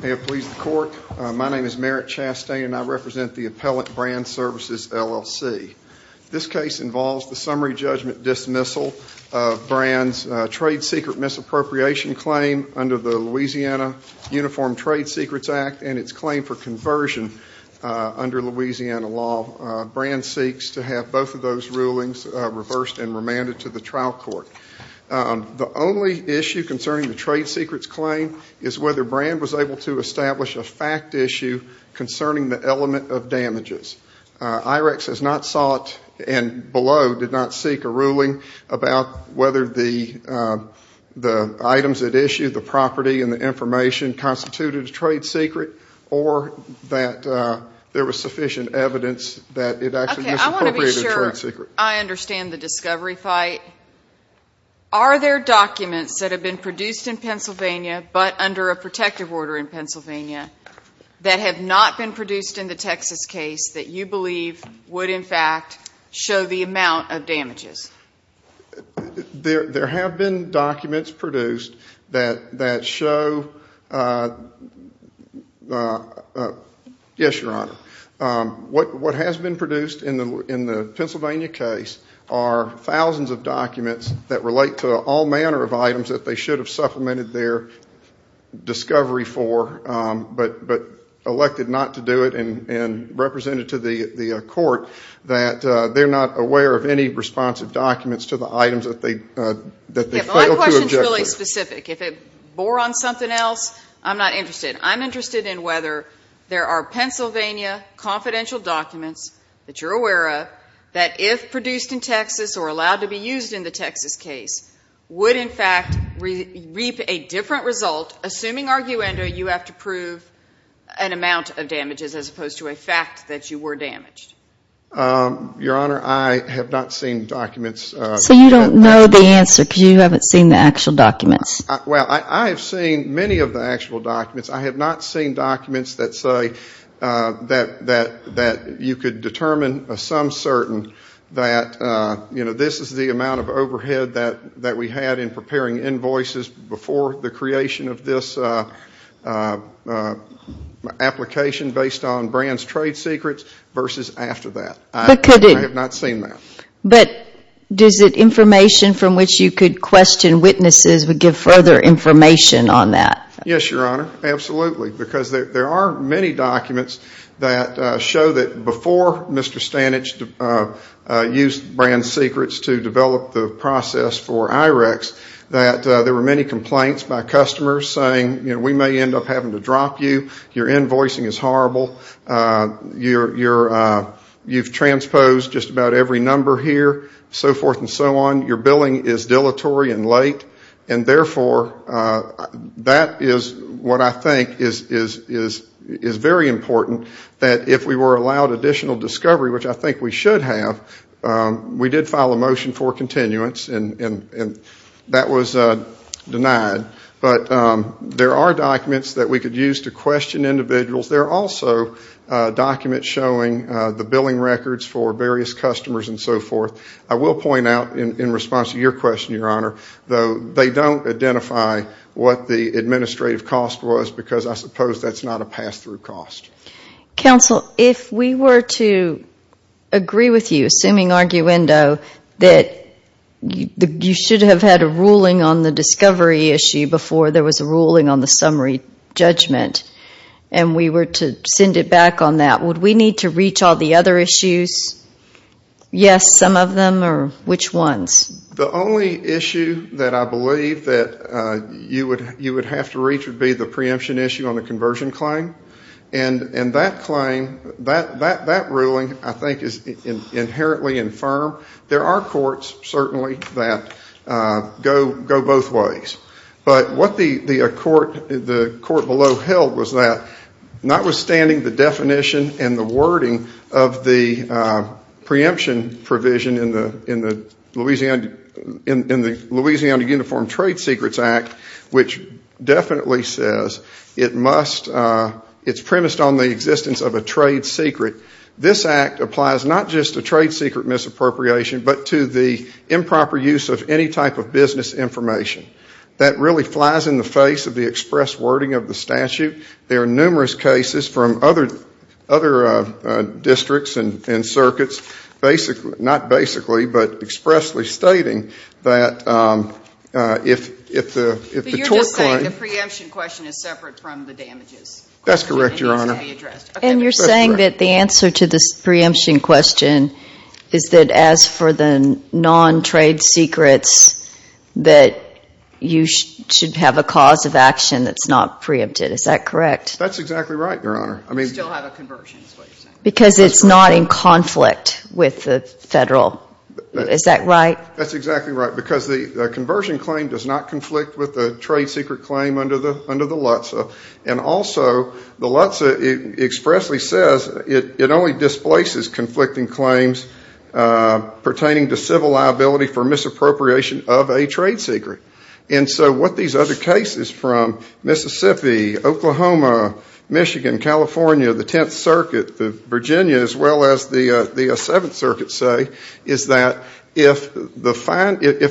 May it please the Court, my name is Merritt Chastain and I represent the Appellant Brand Services, L.L.C. This case involves the summary judgment dismissal of Brand's trade secret misappropriation claim under the Louisiana Uniform Trade Secrets Act and its claim for conversion under Louisiana law. Brand seeks to have both of those rulings reversed and issue concerning the trade secrets claim is whether Brand was able to establish a fact issue concerning the element of damages. Irex has not sought and below did not seek a ruling about whether the items at issue, the property and the information constituted a trade secret or that there was sufficient evidence that it actually misappropriated a trade secret. I understand the discovery fight. Are there documents that have been produced in Pennsylvania but under a protective order in Pennsylvania that have not been produced in the Texas case that you believe would in fact show the amount of damages? There have been documents produced that show, yes, Your Honor, what has been produced in the Pennsylvania case are thousands of documents that relate to all manner of items that they should have supplemented their discovery for but elected not to do it and represented to the court that they're not aware of any responsive documents to the items that they failed to object to. My question is really specific. If it bore on something else, I'm not interested. I'm Pennsylvania confidential documents that you're aware of that if produced in Texas or allowed to be used in the Texas case would in fact reap a different result assuming arguendo you have to prove an amount of damages as opposed to a fact that you were damaged. Your Honor, I have not seen documents. So you don't know the answer because you haven't seen the actual documents? Well, I have seen many of the actual documents. I have not seen documents that say that you could determine a sum certain that this is the amount of overhead that we had in preparing invoices before the creation of this application based on Brands Trade Secrets versus after that. But could it? I have not seen that. But is it information from which you could question witnesses would give further information on that? Yes, Your Honor. Absolutely. Because there are many documents that show that before Mr. Stanich used Brands Secrets to develop the process for IREX that there were many complaints by customers saying we may end up having to drop you, your invoicing is horrible, you've transposed just about every number here, so forth and so on, your billing is dilatory and late, and therefore that is what I think is very important that if we were allowed additional discovery, which I think we should have, we did file a motion for continuance and that was denied. But there are documents that we could use to question individuals. There are also documents showing the billing records for various customers and so forth. I will point out in response to your question, Your Honor, though they don't identify what the administrative cost was because I suppose that is not a pass-through cost. Counsel, if we were to agree with you, assuming arguendo, that you should have had a ruling on the discovery issue before there was a ruling on the summary judgment and we were to send it back on that, would we need to reach all the other issues? Yes, some of them or which ones? The only issue that I believe that you would have to reach would be the preemption issue on the conversion claim. And that claim, that ruling I think is inherently infirm. There are courts certainly that go both ways. But what the court below held was that notwithstanding the definition and the wording of the preemption provision in the Louisiana Uniform Trade Secrets Act, which definitely says it is premised on the existence of a trade secret, this act applies not just to trade secret misappropriation but to the improper use of any type of business information. That really flies in the face of the express wording of the statute. There are numerous cases from other districts and circuits basically, not basically, but expressly stating that if the tort claim But you're just saying the preemption question is separate from the damages? That's correct, Your Honor. It needs to be addressed. And you're saying that the answer to this preemption question is that as for the non-trade secrets that you should have a cause of action that's not preempted, is that correct? That's exactly right, Your Honor. Because it's not in conflict with the federal, is that right? That's exactly right because the conversion claim does not conflict with the trade secret claim under the LHTSA. And also, the LHTSA expressly says it only displaces conflicting claims pertaining to civil liability for misappropriation of a trade secret. And so what these other cases from Mississippi, Oklahoma, Michigan, California, the Tenth Circuit, Virginia, as well, if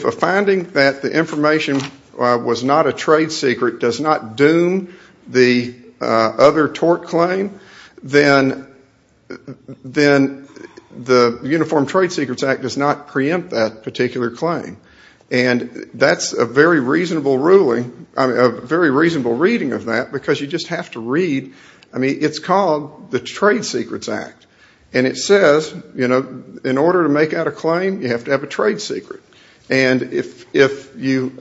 a finding that the information was not a trade secret does not doom the other tort claim, then the Uniform Trade Secrets Act does not preempt that particular claim. And that's a very reasonable reading of that because you just have to read, I mean, it's called the Trade Secrets Act. And it says, you know, in order to make out a claim, you have to have a trade secret. And if you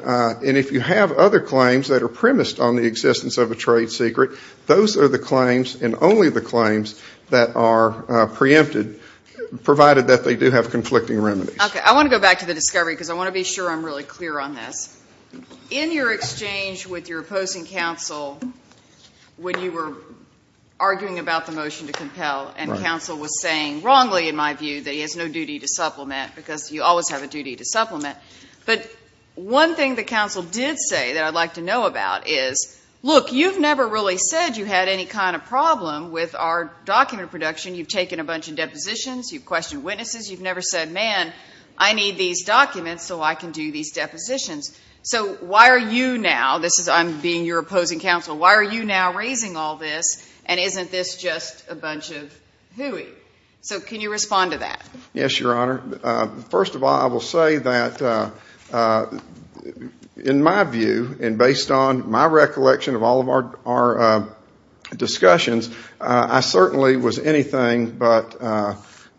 have other claims that are premised on the existence of a trade secret, those are the claims and only the claims that are preempted, provided that they do have conflicting remedies. Okay. I want to go back to the discovery because I want to be sure I'm really clear on this. In your exchange with your opposing counsel when you were arguing about the motion to compel and counsel was saying, wrongly in my view, that he has no duty to supplement because you always have a duty to supplement. But one thing the counsel did say that I'd like to know about is, look, you've never really said you had any kind of problem with our document production. You've taken a bunch of depositions. You've questioned witnesses. You've never said, man, I need these documents so I can do these depositions. So why are you now, this is, I'm being your opposing counsel, why are you now raising all this and isn't this just a bunch of hooey? So can you respond to that? Yes, Your Honor. First of all, I will say that in my view and based on my recollection of all of our discussions, I certainly was anything but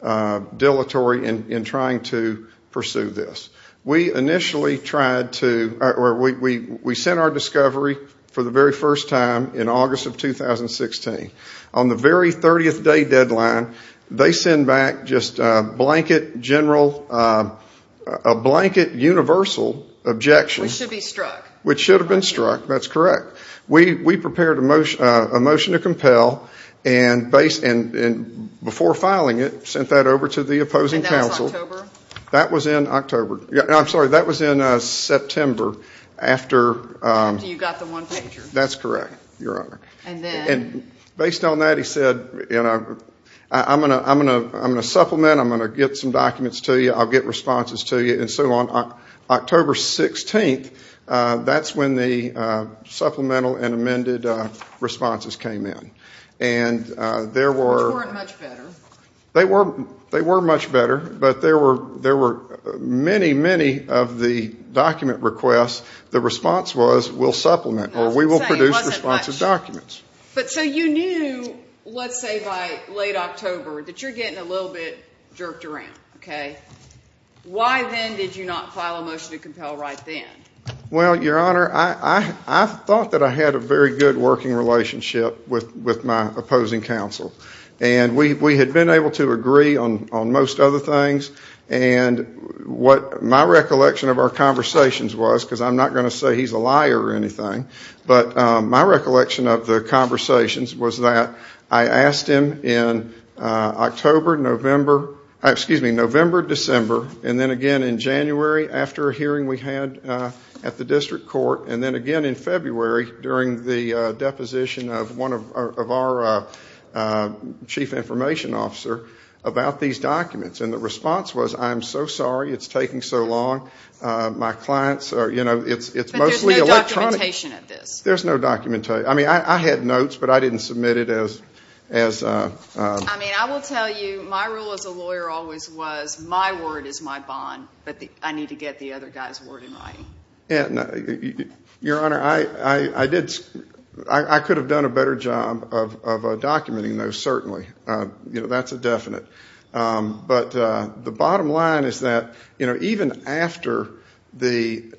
dilatory in trying to pursue this. We initially tried to, we sent our discovery for the very first time in August of 2016. On the very 30th day deadline, they send back just a blanket general, a blanket universal objection. Which should have been struck. Which should have been struck, that's correct. We prepared a motion to compel and before filing it, sent that over to the opposing counsel. And that was in October? That was in October. I'm sorry, that was in September after you got the one-pager. That's correct, Your Honor. And based on that he said, I'm going to supplement, I'm going to get some documents to you, I'll get responses to you and so on. October 16th, that's when the supplemental and amended responses came in. Which weren't much better. They were much better, but there were many, many of the document requests that the response was, we'll supplement or we will produce responses documents. But so you knew, let's say by late October, that you're getting a little bit jerked around. Why then did you not file a motion to compel right then? Well Your Honor, I thought that I had a very good working relationship with my opposing counsel. And we had been able to agree on most other things and what my recollection of our conversations was, because I'm not going to say he's a liar or anything, but my recollection of the conversations was that I asked him in November, December and then again in January after a hearing we had at the district court and then again in February during the deposition of one of our chief information officer about these documents. And the response was, I'm so sorry, it's taking so long. My clients are, you know, it's mostly But there's no documentation of this? There's no documentation. I mean, I had notes, but I didn't submit it as a... I mean, I will tell you, my role as a lawyer always was, my word is my bond, but I need to get the other guy's word in writing. Your Honor, I did, I could have done a better job of documenting those, certainly. You know, that's a definite. But the bottom line is that, you know, even after the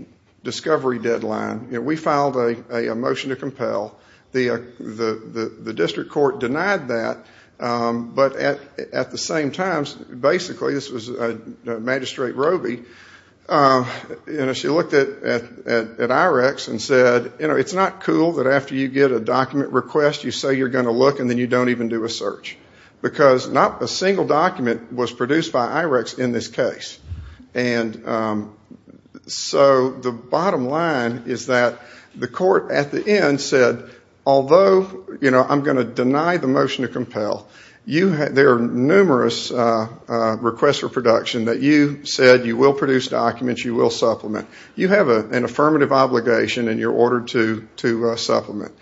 discovery deadline, we filed a motion to compel. The district court denied that, but at the same time, basically, this was Magistrate Roby, you know, she looked at IREX and said, you know, it's not cool that after you get a document request you say you're going to look and then you don't even do a search. Because not a single document was produced by IREX in this case. And so the bottom line is that the court at the end said, although, you know, I'm going to deny the motion to compel, you have, there are numerous requests for production that you said you will produce documents, you will supplement. You have an affirmative obligation in your order to supplement.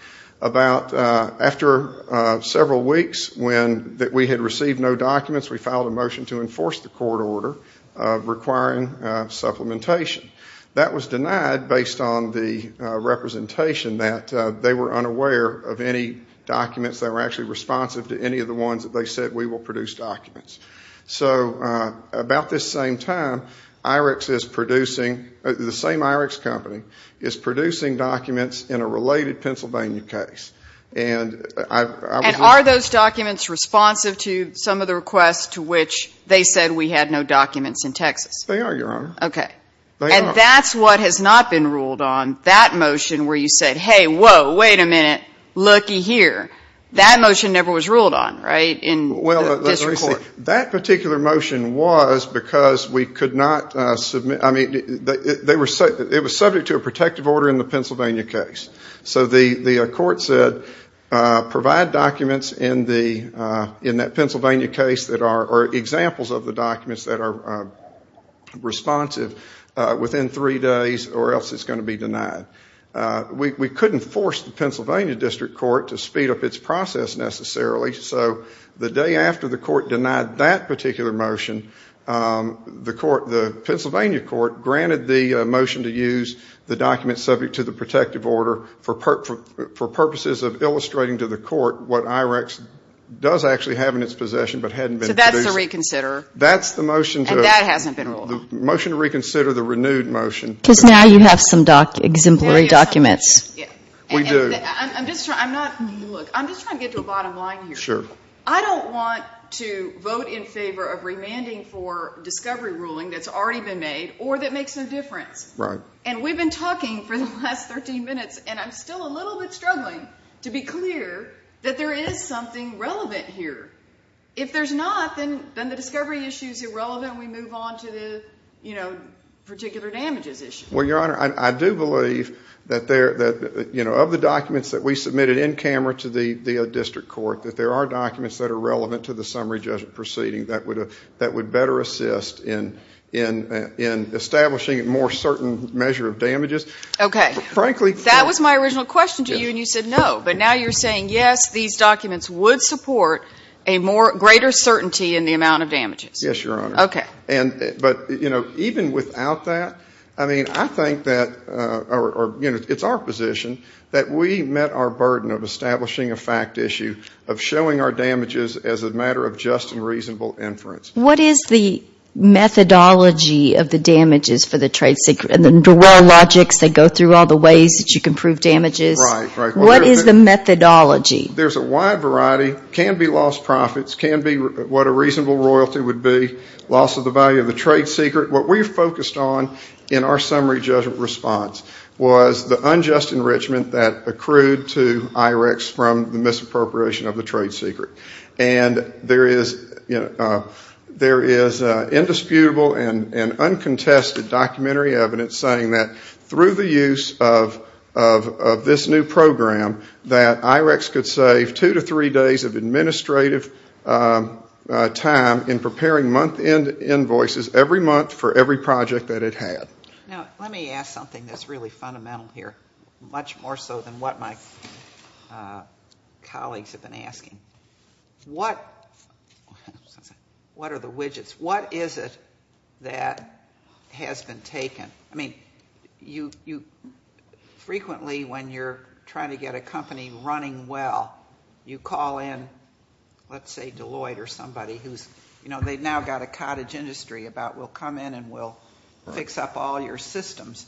About, after several weeks when we had received no documents, we filed a motion to enforce the court order requiring supplementation. That was denied based on the representation that they were unaware of any documents that were actually responsive to any of the ones that they said we will produce documents. So about this same time, IREX is producing, the same IREX company, is producing documents in a related Pennsylvania case. And I was... And are those documents responsive to some of the requests to which they said we had no documents in Texas? They are, Your Honor. Okay. They are. And that's what has not been ruled on, that motion where you said, hey, whoa, wait a minute, well, let's report. That particular motion was because we could not submit, I mean, it was subject to a protective order in the Pennsylvania case. So the court said, provide documents in that Pennsylvania case that are, or examples of the documents that are responsive within three days or else it's going to be denied. We couldn't force the Pennsylvania District Court to speed up its process necessarily. So the day after the court denied that particular motion, the Pennsylvania court granted the motion to use the documents subject to the protective order for purposes of illustrating to the court what IREX does actually have in its possession but hadn't been produced. So that's the reconsider? That's the motion to... And that hasn't been ruled on? Motion to reconsider the renewed motion. Because now you have some exemplary documents. We do. I'm just trying, I'm not, look, I'm just trying to get to a bottom line here. Sure. I don't want to vote in favor of remanding for discovery ruling that's already been made or that makes no difference. And we've been talking for the last 13 minutes and I'm still a little bit struggling to be clear that there is something relevant here. If there's not, then the discovery issue is irrelevant and we move on to the, you know, particular damages issue. Well, Your Honor, I do believe that there, you know, of the documents that we submitted in camera to the district court, that there are documents that are relevant to the summary judgment proceeding that would better assist in establishing a more certain measure of damages. Okay. Frankly... That was my original question to you and you said no. But now you're saying yes, these documents would support a more, greater certainty in the amount of damages. Yes, Your Honor. Okay. But, you know, even without that, I mean, I think that, you know, it's our position that we met our burden of establishing a fact issue, of showing our damages as a matter of just and reasonable inference. What is the methodology of the damages for the trade secret and the raw logics that go through all the ways that you can prove damages? Right, right. What is the methodology? There's a wide variety. Can be lost profits, can be what a reasonable royalty would be, loss of the value of the trade secret. What we focused on in our summary judgment response was the unjust enrichment that accrued to IREX from the misappropriation of the trade secret. And there is, you know, there is indisputable and uncontested documentary evidence saying that through the use of this new program, that IREX could save two to three days of end invoices every month for every project that it had. Now, let me ask something that's really fundamental here, much more so than what my colleagues have been asking. What are the widgets? What is it that has been taken? I mean, you frequently, when you're trying to get a company running well, you call in, let's say Deloitte or somebody who's, you know, they've now got a cottage industry about we'll come in and we'll fix up all your systems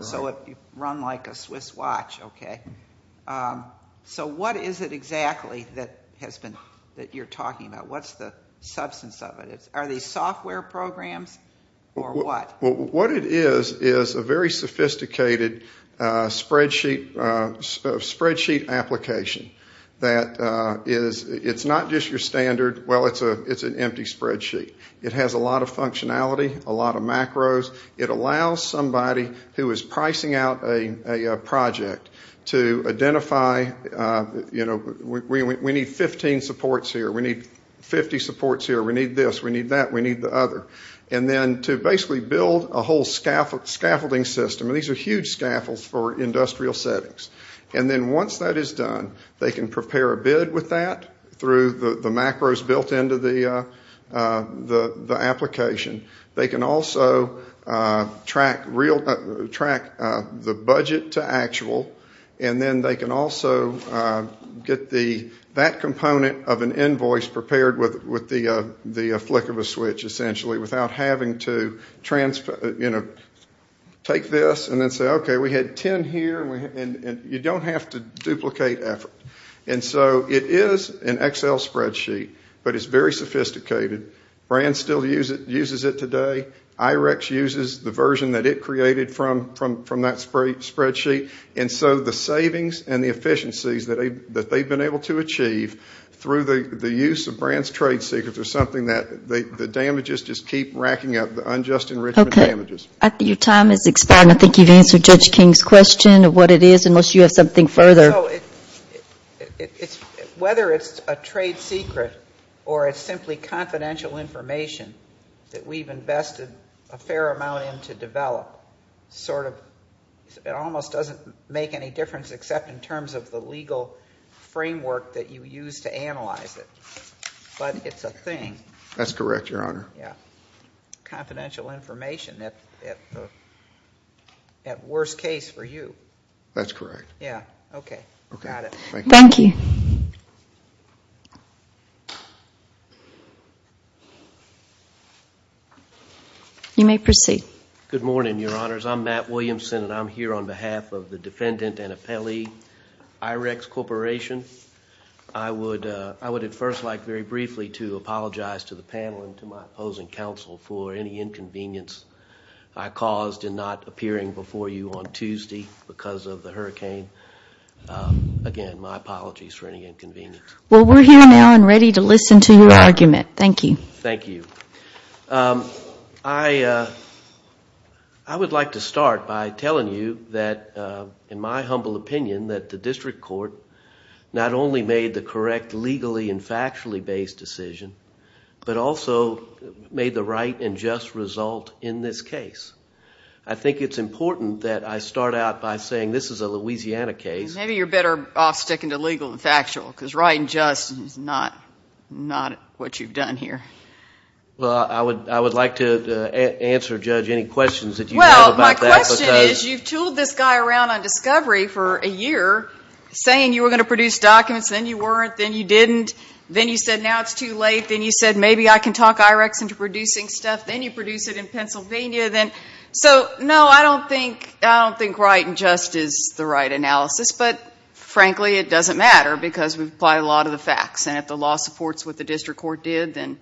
so it'll run like a Swiss watch, okay? So what is it exactly that has been, that you're talking about? What's the substance of it? Are these software programs or what? What it is, is a very sophisticated spreadsheet application that is, it's not just your standard, well, it's an empty spreadsheet. It has a lot of functionality, a lot of macros. It allows somebody who is pricing out a project to identify, you know, we need 15 supports here, we need 50 supports here, we need this, we need that, we need the other. And then to basically build a whole scaffolding system, and these are huge scaffolds for industrial settings, and then once that is done, they can prepare a bid with that through the macros built into the application. They can also track the budget to actual, and then they can also get that component of an invoice prepared with the flick of a switch, essentially, without having to transfer, you know, take this and then say, okay, we had 10 here, and you don't have to duplicate effort. And so it is an Excel spreadsheet, but it's very sophisticated. Brands still uses it today. IREX uses the version that it created from that spreadsheet, and so the savings and the through the use of Brands Trade Secrets is something that the damages just keep racking up, the unjust enrichment damages. Okay. Your time has expired, and I think you've answered Judge King's question of what it is, unless you have something further. Whether it's a trade secret or it's simply confidential information that we've invested a fair amount in to develop, sort of, it almost doesn't make any difference except in terms of the legal framework that you use to analyze it, but it's a thing. That's correct, Your Honor. Yeah. Confidential information, at worst case for you. That's correct. Yeah. Okay. Got it. Thank you. Thank you. You may proceed. Good morning, Your Honors. I'm Matt Williamson, and I'm here on behalf of the defendant and appellee, IREX Corporation. I would at first like very briefly to apologize to the panel and to my opposing counsel for any inconvenience I caused in not appearing before you on Tuesday because of the hurricane. Again, my apologies for any inconvenience. Well, we're here now and ready to listen to your argument. Thank you. Thank you. I would like to start by telling you that, in my humble opinion, that the district court not only made the correct legally and factually based decision, but also made the right and just result in this case. I think it's important that I start out by saying this is a Louisiana case... Maybe you're better off sticking to legal and factual because right and just is not what you've done here. Well, I would like to answer, Judge, any questions that you have about that because... Well, my question is you've tooled this guy around on discovery for a year saying you were going to produce documents, then you weren't, then you didn't, then you said now it's too late, then you said maybe I can talk IREX into producing stuff, then you produce it in Pennsylvania, then... So, no, I don't think right and just is the right analysis, but frankly, it doesn't matter because we've applied a lot of the facts, and if the law supports what the district court did, then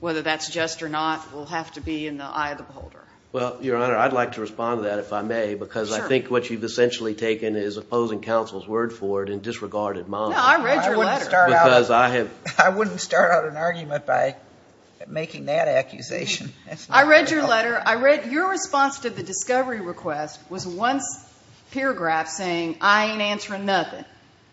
whether that's just or not will have to be in the eye of the beholder. Well, Your Honor, I'd like to respond to that if I may because I think what you've essentially taken is opposing counsel's word for it and disregarded mine. No, I read your letter. Because I have... I wouldn't start out an argument by making that accusation. I read your letter. I read your response to the discovery request was one paragraph saying I ain't answering nothing,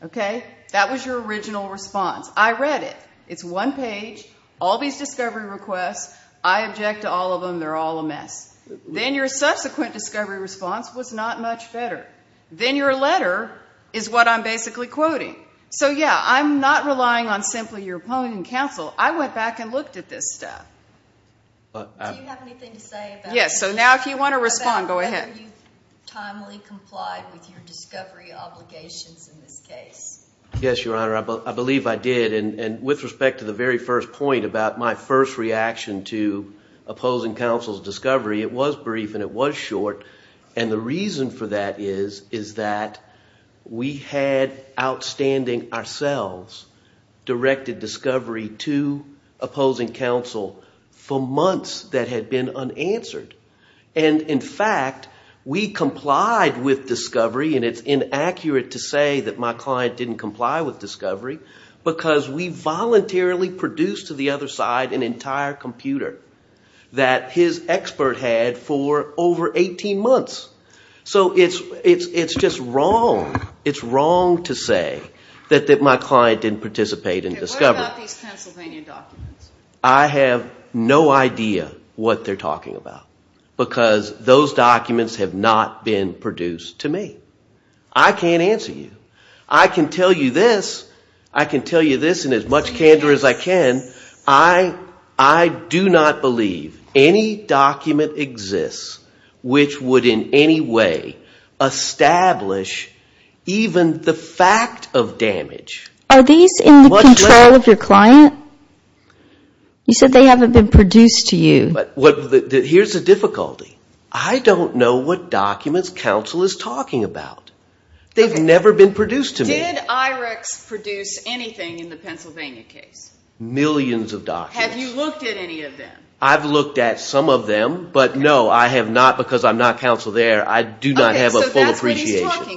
okay? That was your original response. I read it. It's one page, all these discovery requests, I object to all of them, they're all a mess. Then your subsequent discovery response was not much better. Then your letter is what I'm basically quoting. So yeah, I'm not relying on simply your opponent in counsel. I went back and looked at this stuff. Do you have anything to say about... Yes. So now if you want to respond, go ahead.... about whether you've timely complied with your discovery obligations in this case? Yes, Your Honor. I believe I did. With respect to the very first point about my first reaction to opposing counsel's discovery, it was brief and it was short. The reason for that is that we had, outstanding ourselves, directed discovery to opposing counsel for months that had been unanswered. In fact, we complied with discovery, and it's inaccurate to say that my client didn't comply with discovery, because we voluntarily produced to the other side an entire computer that his expert had for over 18 months. So it's just wrong. It's wrong to say that my client didn't participate in discovery. What about these Pennsylvania documents? I have no idea what they're talking about, because those documents have not been produced to me. I can't answer you. I can tell you this, I can tell you this in as much candor as I can, I do not believe any document exists which would in any way establish even the fact of damage. Are these in the control of your client? You said they haven't been produced to you. Here's the difficulty. I don't know what documents counsel is talking about. They've never been produced to me. Did IREX produce anything in the Pennsylvania case? Millions of documents. Have you looked at any of them? I've looked at some of them, but no, I have not, because I'm not counsel there, I do not have a full appreciation. Okay, so that's what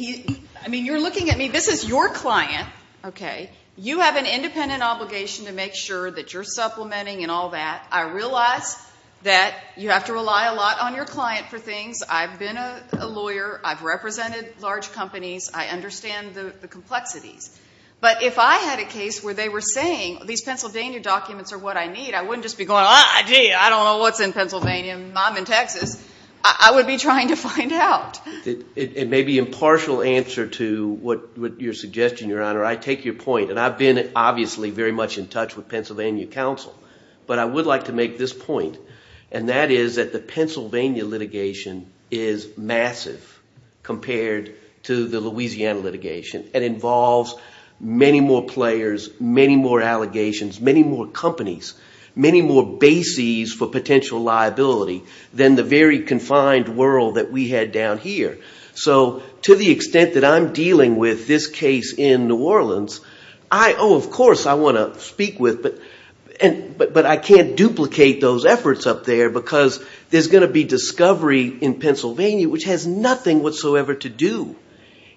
he's talking about. I mean, you're looking at me, this is your client, okay? You have an independent obligation to make sure that you're supplementing and all that. I realize that you have to rely a lot on your client for things. I've been a lawyer, I've represented large companies, I understand the complexities, but if I had a case where they were saying these Pennsylvania documents are what I need, I wouldn't just be going, gee, I don't know what's in Pennsylvania, I'm in Texas. I would be trying to find out. It may be impartial answer to what you're suggesting, Your Honor. I take your point, and I've been obviously very much in touch with Pennsylvania counsel, but I would like to make this point, and that is that the Pennsylvania litigation is massive compared to the Louisiana litigation. It involves many more players, many more allegations, many more companies, many more bases for potential liability than the very confined world that we had down here. So, to the extent that I'm dealing with this case in New Orleans, oh, of course I want to speak with, but I can't duplicate those efforts up there because there's going to be discovery in Pennsylvania which has nothing whatsoever to do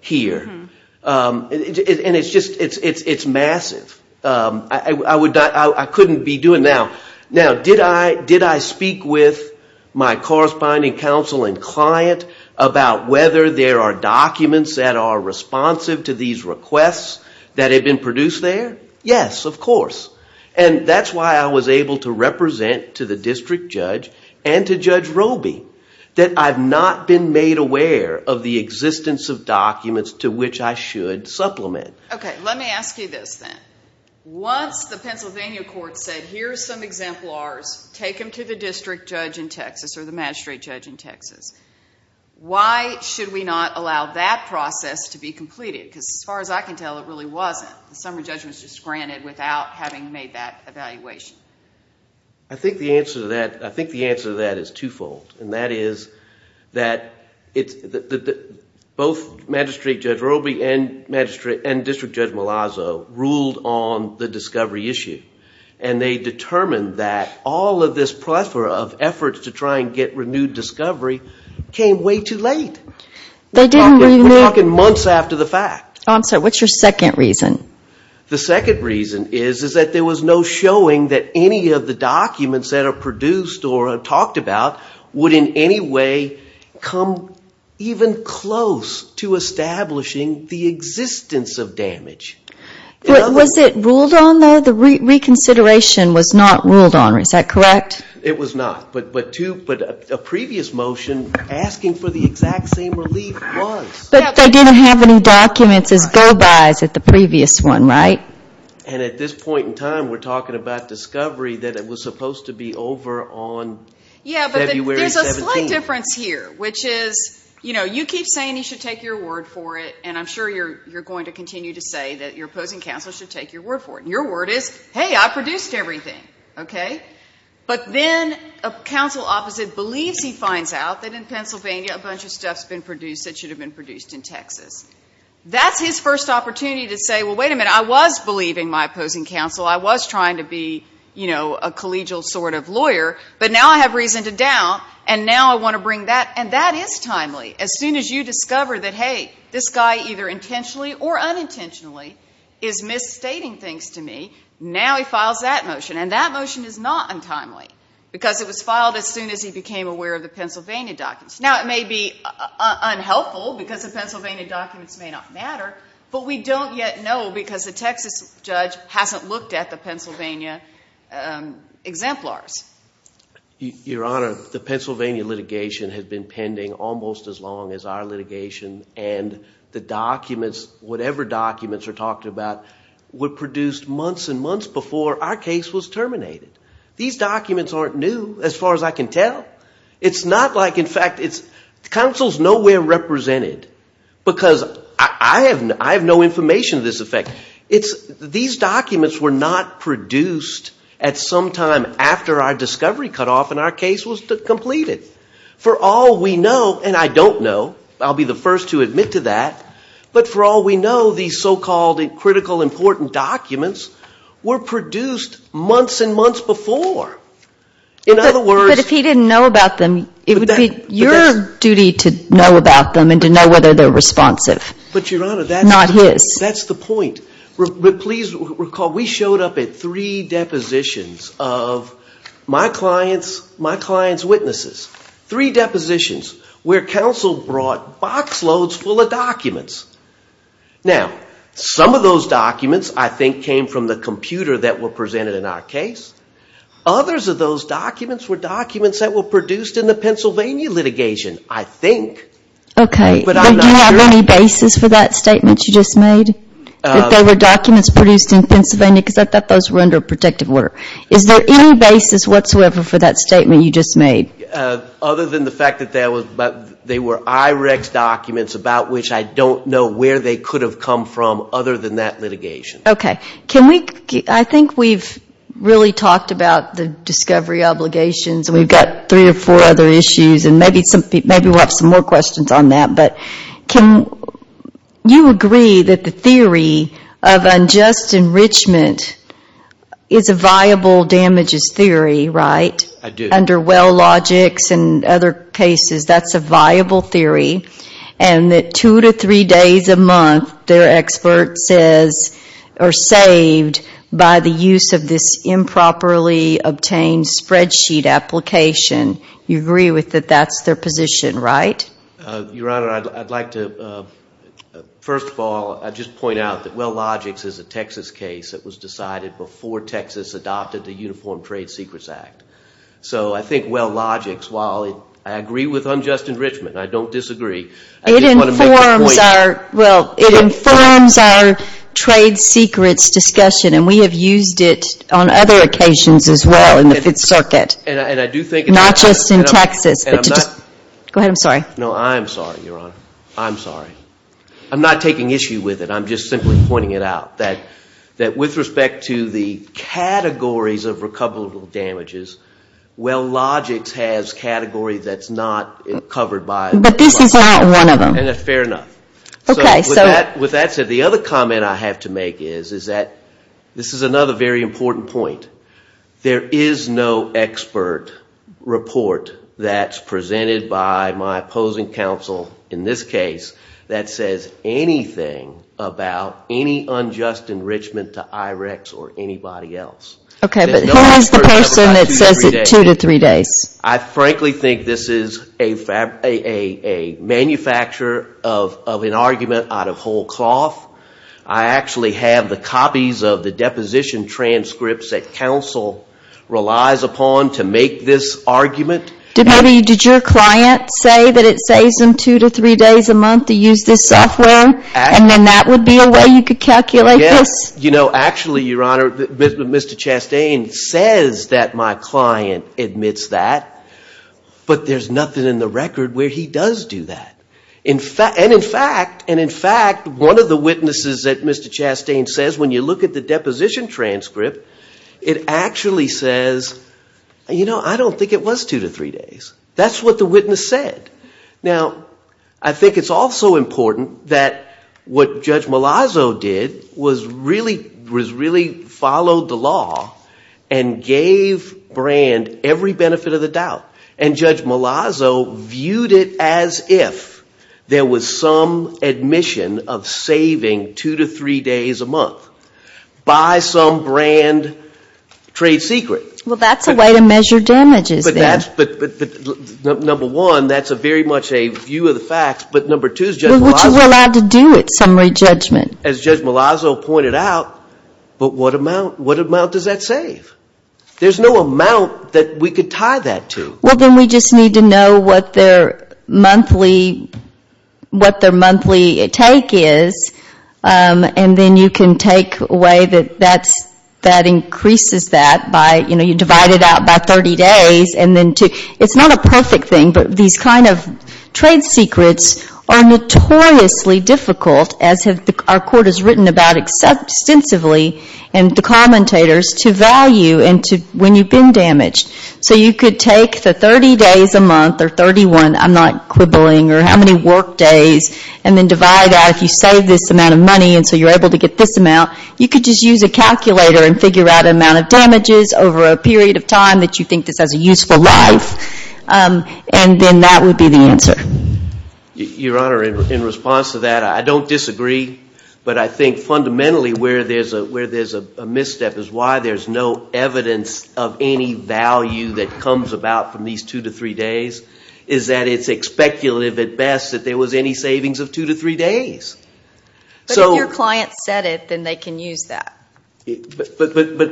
here. And it's just, it's massive. I couldn't be doing that. Now, did I speak with my corresponding counsel and client about whether there are documents that are responsive to these requests that have been produced there? Yes, of course. And that's why I was able to represent to the district judge and to Judge Roby that I've not been made aware of the existence of documents to which I should supplement. Okay, let me ask you this then. Once the Pennsylvania court said, here's some exemplars, take them to the district judge in Texas or the magistrate judge in Texas, why should we not allow that process to be completed? Because as far as I can tell, it really wasn't. The summary judgment was just granted without having made that evaluation. I think the answer to that, I think the answer to that is twofold. And that is that both magistrate Judge Roby and district judge Malazzo ruled on the discovery issue. And they determined that all of this plethora of efforts to try and get renewed discovery, came way too late. We're talking months after the fact. I'm sorry, what's your second reason? The second reason is that there was no showing that any of the documents that are produced or talked about would in any way come even close to establishing the existence of damage. Was it ruled on though? The reconsideration was not ruled on, is that correct? It was not, but a previous motion asking for the exact same relief was. But they didn't have any documents as go-bys at the previous one, right? And at this point in time, we're talking about discovery that it was supposed to be over on February 17th. Yeah, but there's a slight difference here, which is, you know, you keep saying you should take your word for it, and I'm sure you're going to continue to say that your opposing counsel should take your word for it. And your word is, hey, I produced everything, okay? But then a counsel opposite believes he finds out that in Pennsylvania, a bunch of stuff's been produced that should have been produced in Texas. That's his first opportunity to say, well, wait a minute, I was believing my opposing counsel, I was trying to be, you know, a collegial sort of lawyer, but now I have reason to doubt, and now I want to bring that. And that is timely. As soon as you discover that, hey, this guy either intentionally or unintentionally is misstating things to me, now he files that motion. And that motion is not untimely, because it was filed as soon as he became aware of the Pennsylvania documents. Now, it may be unhelpful, because the Pennsylvania documents may not matter, but we don't yet know, because the Texas judge hasn't looked at the Pennsylvania exemplars. Your Honor, the Pennsylvania litigation has been pending almost as long as our litigation, and the documents, whatever documents are talked about, were produced months and months before our case was terminated. These documents aren't new, as far as I can tell. It's not like, in fact, counsel's nowhere represented, because I have no information of this effect. These documents were not produced at some time after our discovery cut off and our case was completed. For all we know, and I don't know, I'll be the first to admit to that, but for all we know, these so-called critical, important documents were produced months and months before. In other words... But if he didn't know about them, it would be your duty to know about them and to know whether they're responsive. But Your Honor, that's... Not his. That's the point. But please recall, we showed up at three depositions of my client's witnesses. Three depositions where counsel brought box loads full of documents. Now, some of those documents, I think, came from the computer that were presented in our case. Others of those documents were documents that were produced in the Pennsylvania litigation, I think. Okay. But do you have any basis for that statement you just made? That there were documents produced in Pennsylvania? Because I thought those were under protective order. Is there any basis whatsoever for that statement you just made? Other than the fact that they were IREX documents about which I don't know where they could have come from other than that litigation. Okay. Can we... I think we've really talked about the discovery obligations, and we've got three or four other issues, and maybe we'll have some more questions on that. But can you agree that the theory of unjust enrichment is a viable damages theory, right? I do. Under Wellogix and other cases, that's a viable theory, and that two to three days a month, their expert says, are saved by the use of this improperly obtained spreadsheet application. You agree with that that's their position, right? Your Honor, I'd like to... First of all, I'd just point out that Wellogix is a Texas case that was decided before Texas adopted the Uniform Trade Secrets Act. So I think Wellogix, while I agree with unjust enrichment, I don't disagree, I just want to make a point... It informs our... Well, it informs our trade secrets discussion, and we have used it on other occasions as well in the Fifth Circuit. And I do think... Not just in Texas, but to just... Go ahead. I'm sorry. No, I'm sorry, Your Honor. I'm sorry. I'm not taking issue with it. I'm just simply pointing it out, that with respect to the categories of recoverable damages, Wellogix has category that's not covered by... But this is not one of them. Fair enough. Okay, so... With that said, the other comment I have to make is, is that this is another very important point. There is no expert report that's presented by my opposing counsel, in this case, that says anything about any unjust enrichment to IREX or anybody else. Okay, but who has the person that says it two to three days? I frankly think this is a manufacture of an argument out of whole cloth. I actually have the copies of the deposition transcripts that counsel relies upon to make this argument. Did your client say that it saves him two to three days a month to use this software? And then that would be a way you could calculate this? Yes. Actually, Your Honor, Mr. Chastain says that my client admits that, but there's nothing in the record where he does do that. And in fact, one of the witnesses that Mr. Chastain says, when you look at the deposition transcript, it actually says, you know, I don't think it was two to three days. That's what the witness said. Now, I think it's also important that what Judge Malazzo did was really follow the law and gave Brand every benefit of the doubt. And Judge Malazzo viewed it as if there was some admission of saving two to three days a month by some Brand trade secret. Well, that's a way to measure damages there. But number one, that's very much a view of the facts, but number two is Judge Malazzo... Which is allowed to do it, summary judgment. As Judge Malazzo pointed out, but what amount does that save? There's no amount that we could tie that to. Well, then we just need to know what their monthly take is, and then you can take away that that increases that by, you know, you divide it out by 30 days. It's not a perfect thing, but these kind of trade secrets are notoriously difficult, as our court has written about extensively, and the commentators, to value when you've been damaged. So you could take the 30 days a month, or 31, I'm not quibbling, or how many work days, and then divide that. If you save this amount of money, and so you're able to get this amount, you could just use a calculator and figure out the amount of damages over a period of time that you think this has a useful life, and then that would be the answer. Your Honor, in response to that, I don't disagree, but I think fundamentally where there's a misstep is why there's no evidence of any value that comes about from these two to three days, is that it's speculative at best that there was any savings of two to three days. But if your client said it, then they can use that. But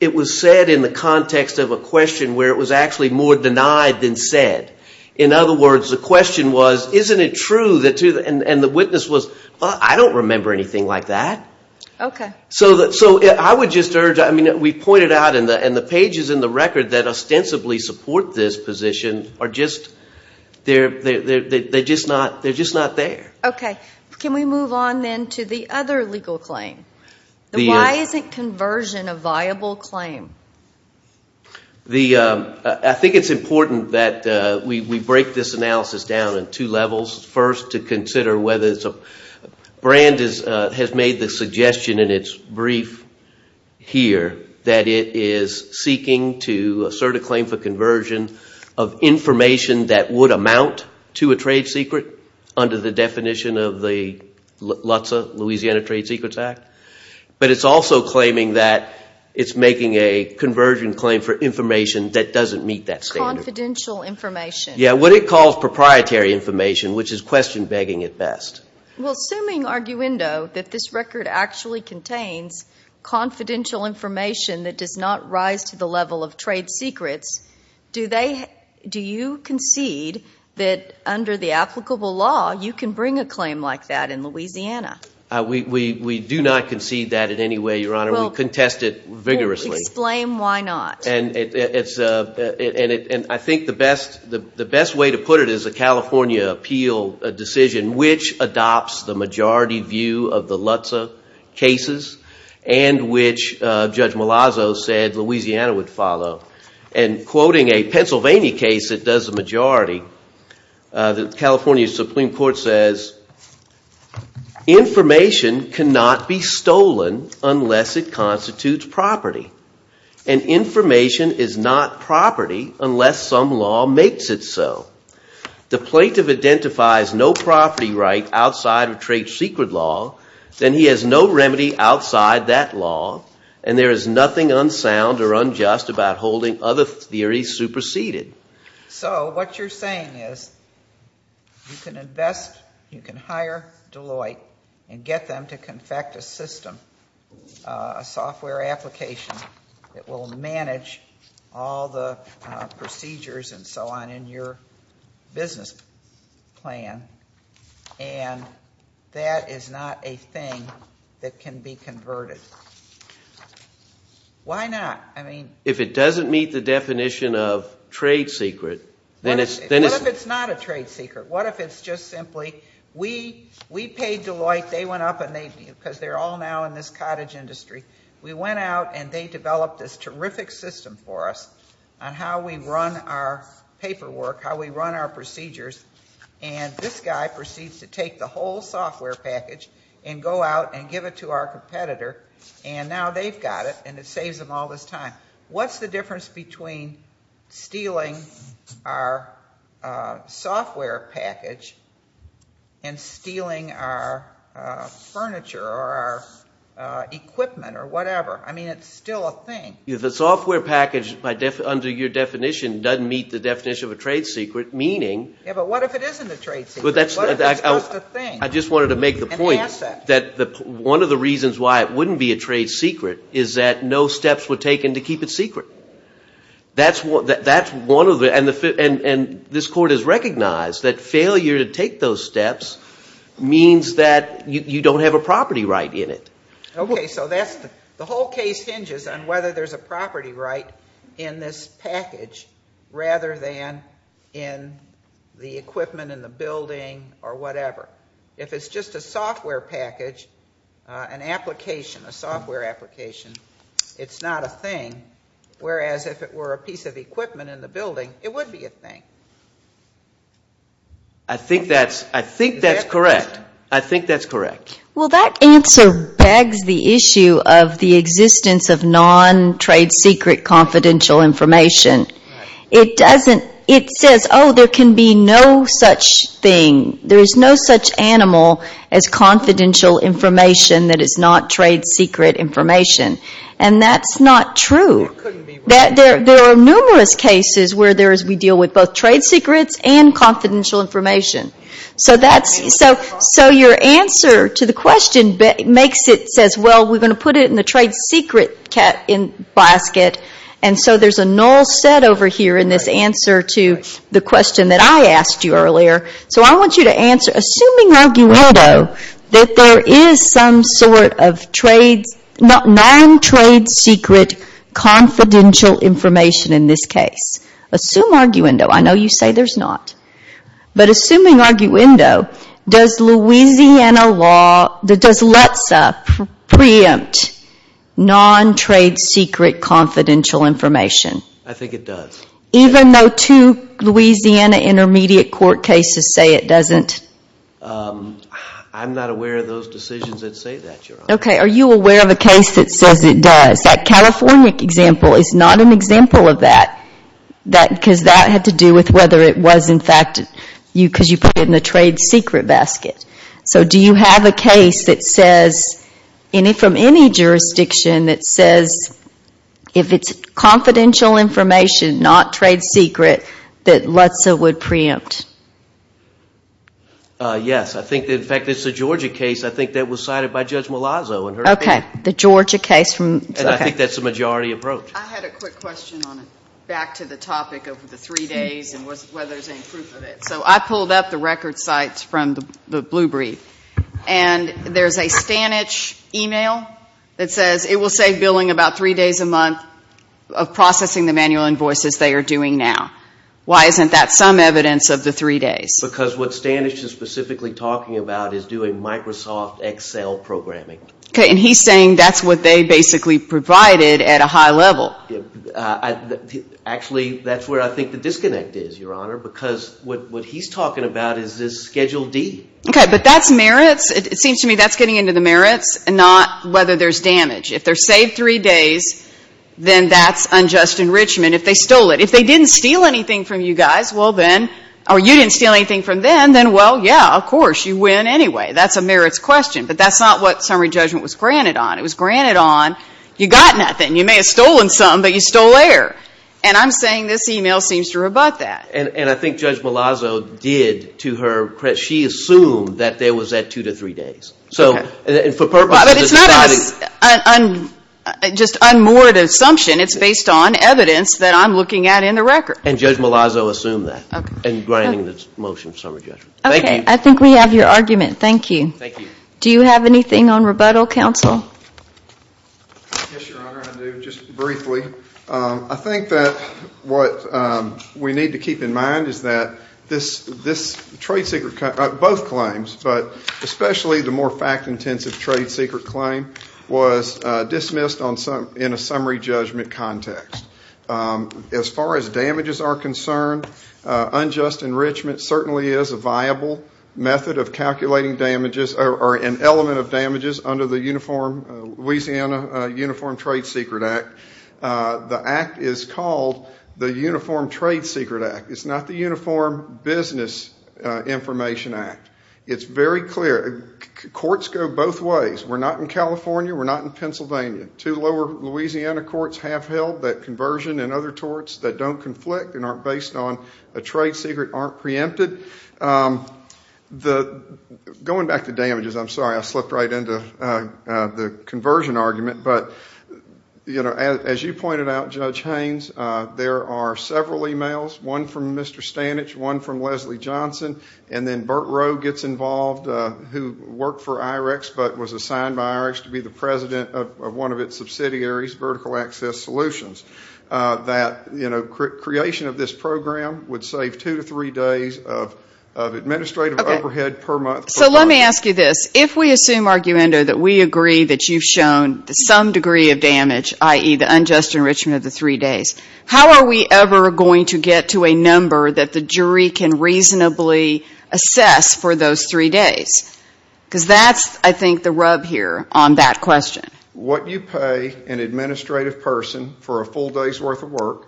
it was said in the context of a question where it was actually more denied than said. In other words, the question was, isn't it true, and the witness was, well, I don't remember anything like that. Okay. So I would just urge, I mean, we pointed out in the pages and the record that ostensibly support this position, they're just not there. Okay. Can we move on, then, to the other legal claim? The why isn't conversion a viable claim? I think it's important that we break this analysis down in two levels. First, to consider whether it's a... Brand has made the suggestion in its brief here that it is seeking to assert a claim for conversion of information that would amount to a trade secret under the definition of the LUTSA, Louisiana Trade Secrets Act. But it's also claiming that it's making a conversion claim for information that doesn't meet that standard. Confidential information. Yeah, what it calls proprietary information, which is question-begging at best. Well, assuming, arguendo, that this record actually contains confidential information that does not rise to the level of trade secrets, do you concede that under the applicable law, you can bring a claim like that in Louisiana? We do not concede that in any way, Your Honor. We contest it vigorously. Explain why not. And I think the best way to put it is a California appeal decision which adopts the majority view of the LUTSA cases and which Judge Malazzo said Louisiana would follow. And quoting a Pennsylvania case that does a majority, the California Supreme Court says, Information cannot be stolen unless it constitutes property. And information is not property unless some law makes it so. The plaintiff identifies no property right outside of trade secret law, then he has no remedy outside that law, and there is nothing unsound or unjust about holding other theories superseded. So what you're saying is you can invest, you can hire Deloitte and get them to confect a system, a software application that will manage all the procedures and so on in your business plan, and that is not a thing that can be converted. Why not? If it doesn't meet the definition of trade secret, then it's... What if it's not a trade secret? What if it's just simply we paid Deloitte, they went up and they, because they're all now in this cottage industry, we went out and they developed this terrific system for us on how we run our paperwork, how we run our procedures, and this guy proceeds to take the whole software package and go out and give it to our competitor, and now they've got it and it saves them all this time. What's the difference between stealing our software package and stealing our furniture or our equipment or whatever? I mean, it's still a thing. If the software package, under your definition, doesn't meet the definition of a trade secret, meaning... Yeah, but what if it isn't a trade secret? I just wanted to make the point that one of the reasons why it wouldn't be a trade secret is that no steps were taken to keep it secret. That's one of the... And this court has recognized that failure to take those steps means that you don't have a property right in it. Okay, so the whole case hinges on whether there's a property right in this package rather than in the equipment, in the building, or whatever. If it's just a software package, an application, a software application, it's not a thing, whereas if it were a piece of equipment in the building, it would be a thing. I think that's correct. Well, that answer begs the issue of the existence of non-trade secret confidential information. It says, oh, there can be no such thing, there is no such animal as confidential information that is not trade secret information. And that's not true. There are numerous cases where we deal with both trade secrets and confidential information. So your answer to the question makes it, says, well, we're going to put it in the trade secret basket, and so there's a null set over here in this answer to the question that I asked you earlier. So I want you to answer, assuming arguendo, that there is some sort of non-trade secret confidential information in this case. Assume arguendo. I know you say there's not. But assuming arguendo, does Louisiana law, does LTSA preempt non-trade secret confidential information? I think it does. Even though two Louisiana intermediate court cases say it doesn't? I'm not aware of those decisions that say that, Your Honor. Okay, are you aware of a case that says it does? That California example is not an example of that, because that had to do with whether it was, in fact, because you put it in the trade secret basket. So do you have a case that says, from any jurisdiction, that says if it's confidential information, not trade secret, that LTSA would preempt? Yes. In fact, it's the Georgia case. I think that was cited by Judge Malazzo. Okay, the Georgia case. And I think that's the majority approach. I had a quick question back to the topic of the three days and whether there's any proof of it. So I pulled up the record sites from the Blue Brief, and there's a Stanich email that says it will save billing about three days a month of processing the manual invoices they are doing now. Why isn't that some evidence of the three days? Because what Stanich is specifically talking about is doing Microsoft Excel programming. Okay, and he's saying that's what they basically provided at a high level. Actually, that's where I think the disconnect is, Your Honor, because what he's talking about is this Schedule D. Okay, but that's merits. It seems to me that's getting into the merits, not whether there's damage. If they're saved three days, then that's unjust enrichment. If they stole it, if they didn't steal anything from you guys, well, then, or you didn't steal anything from them, then, well, yeah, of course, you win anyway. That's a merits question. But that's not what summary judgment was granted on. It was granted on you got nothing. You may have stolen something, but you stole air. And I'm saying this email seems to rebut that. And I think Judge Malazzo did to her credit. She assumed that there was that two to three days. Okay. And for purposes of that. But it's not just an unmoored assumption. It's based on evidence that I'm looking at in the record. And Judge Malazzo assumed that in granting the motion of summary judgment. Okay, I think we have your argument. Thank you. Thank you. Do you have anything on rebuttal, counsel? Yes, Your Honor, I do, just briefly. I think that what we need to keep in mind is that this trade secret, both claims, but especially the more fact-intensive trade secret claim, was dismissed in a summary judgment context. As far as damages are concerned, unjust enrichment certainly is a viable method of calculating damages or an element of damages under the Louisiana Uniform Trade Secret Act. The act is called the Uniform Trade Secret Act. It's not the Uniform Business Information Act. It's very clear. Courts go both ways. We're not in California. We're not in Pennsylvania. Two lower Louisiana courts have held that conversion and other torts that don't conflict and aren't based on a trade secret aren't preempted. Going back to damages, I'm sorry, I slipped right into the conversion argument, but as you pointed out, Judge Haynes, there are several e-mails, one from Mr. Stanich, one from Leslie Johnson, and then Burt Rowe gets involved who worked for IREX but was assigned by IREX to be the president of one of its subsidiaries, Vertical Access Solutions, that creation of this program would save two to three days of administrative overhead per month. So let me ask you this. If we assume arguendo that we agree that you've shown some degree of damage, i.e. the unjust enrichment of the three days, how are we ever going to get to a number that the jury can reasonably assess for those three days? Because that's, I think, the rub here on that question. What you pay an administrative person for a full day's worth of work,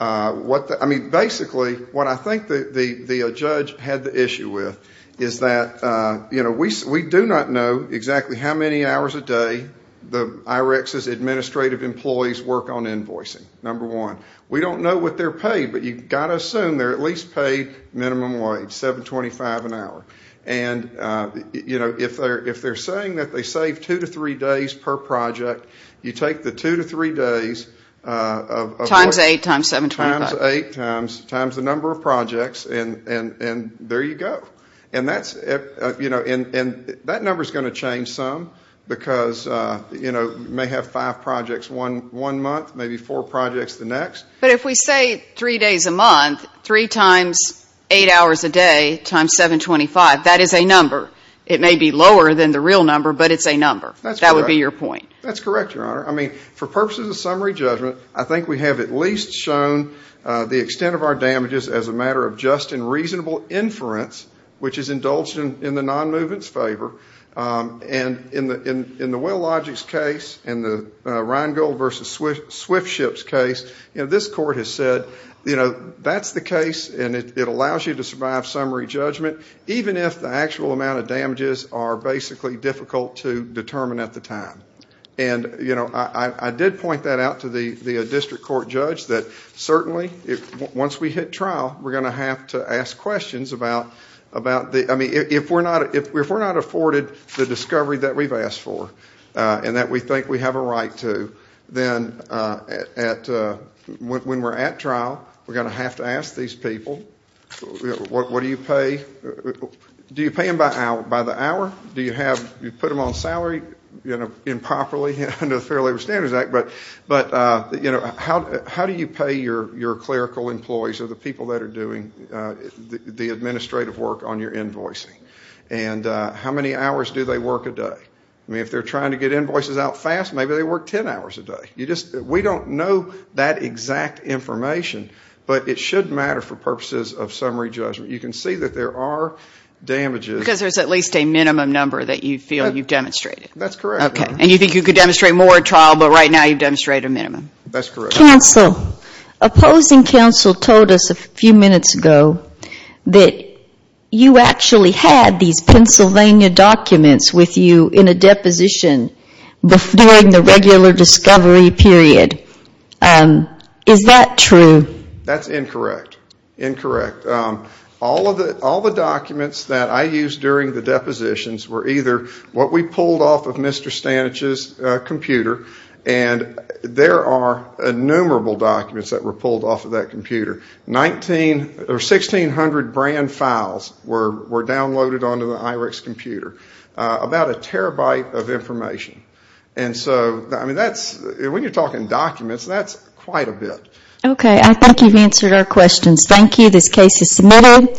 I mean, basically what I think the judge had the issue with is that, you know, we do not know exactly how many hours a day IREX's administrative employees work on invoicing, number one. We don't know what they're paid, but you've got to assume they're at least paid minimum wage, $7.25 an hour. And, you know, if they're saying that they save two to three days per project, you take the two to three days of work. Times eight times $7.25. Times eight times the number of projects, and there you go. And that's, you know, and that number's going to change some because, you know, you may have five projects one month, maybe four projects the next. But if we say three days a month, three times eight hours a day times $7.25, that is a number. It may be lower than the real number, but it's a number. That would be your point. That's correct, Your Honor. I mean, for purposes of summary judgment, I think we have at least shown the extent of our damages as a matter of just and reasonable inference, And in the Wellogic's case, in the Rheingold v. Swiftship's case, this court has said, you know, that's the case, and it allows you to survive summary judgment, even if the actual amount of damages are basically difficult to determine at the time. And, you know, I did point that out to the district court judge, that certainly once we hit trial, we're going to have to ask questions about, I mean, if we're not afforded the discovery that we've asked for and that we think we have a right to, then when we're at trial, we're going to have to ask these people, what do you pay? Do you pay them by the hour? Do you put them on salary improperly under the Fair Labor Standards Act? But, you know, how do you pay your clerical employees or the people that are doing the administrative work on your invoicing? And how many hours do they work a day? I mean, if they're trying to get invoices out fast, maybe they work 10 hours a day. We don't know that exact information, but it should matter for purposes of summary judgment. You can see that there are damages. Because there's at least a minimum number that you feel you've demonstrated. That's correct, Your Honor. Okay. And you think you could demonstrate more at trial, but right now you've demonstrated a minimum. That's correct. Counsel, opposing counsel told us a few minutes ago that you actually had these Pennsylvania documents with you in a deposition during the regular discovery period. Is that true? That's incorrect. Incorrect. All the documents that I used during the depositions were either what we pulled off of Mr. Stanich's computer, and there are innumerable documents that were pulled off of that computer. 1,600 brand files were downloaded onto the IREX computer. About a terabyte of information. And so, I mean, when you're talking documents, that's quite a bit. Okay. I think you've answered our questions. Thank you. This case is submitted.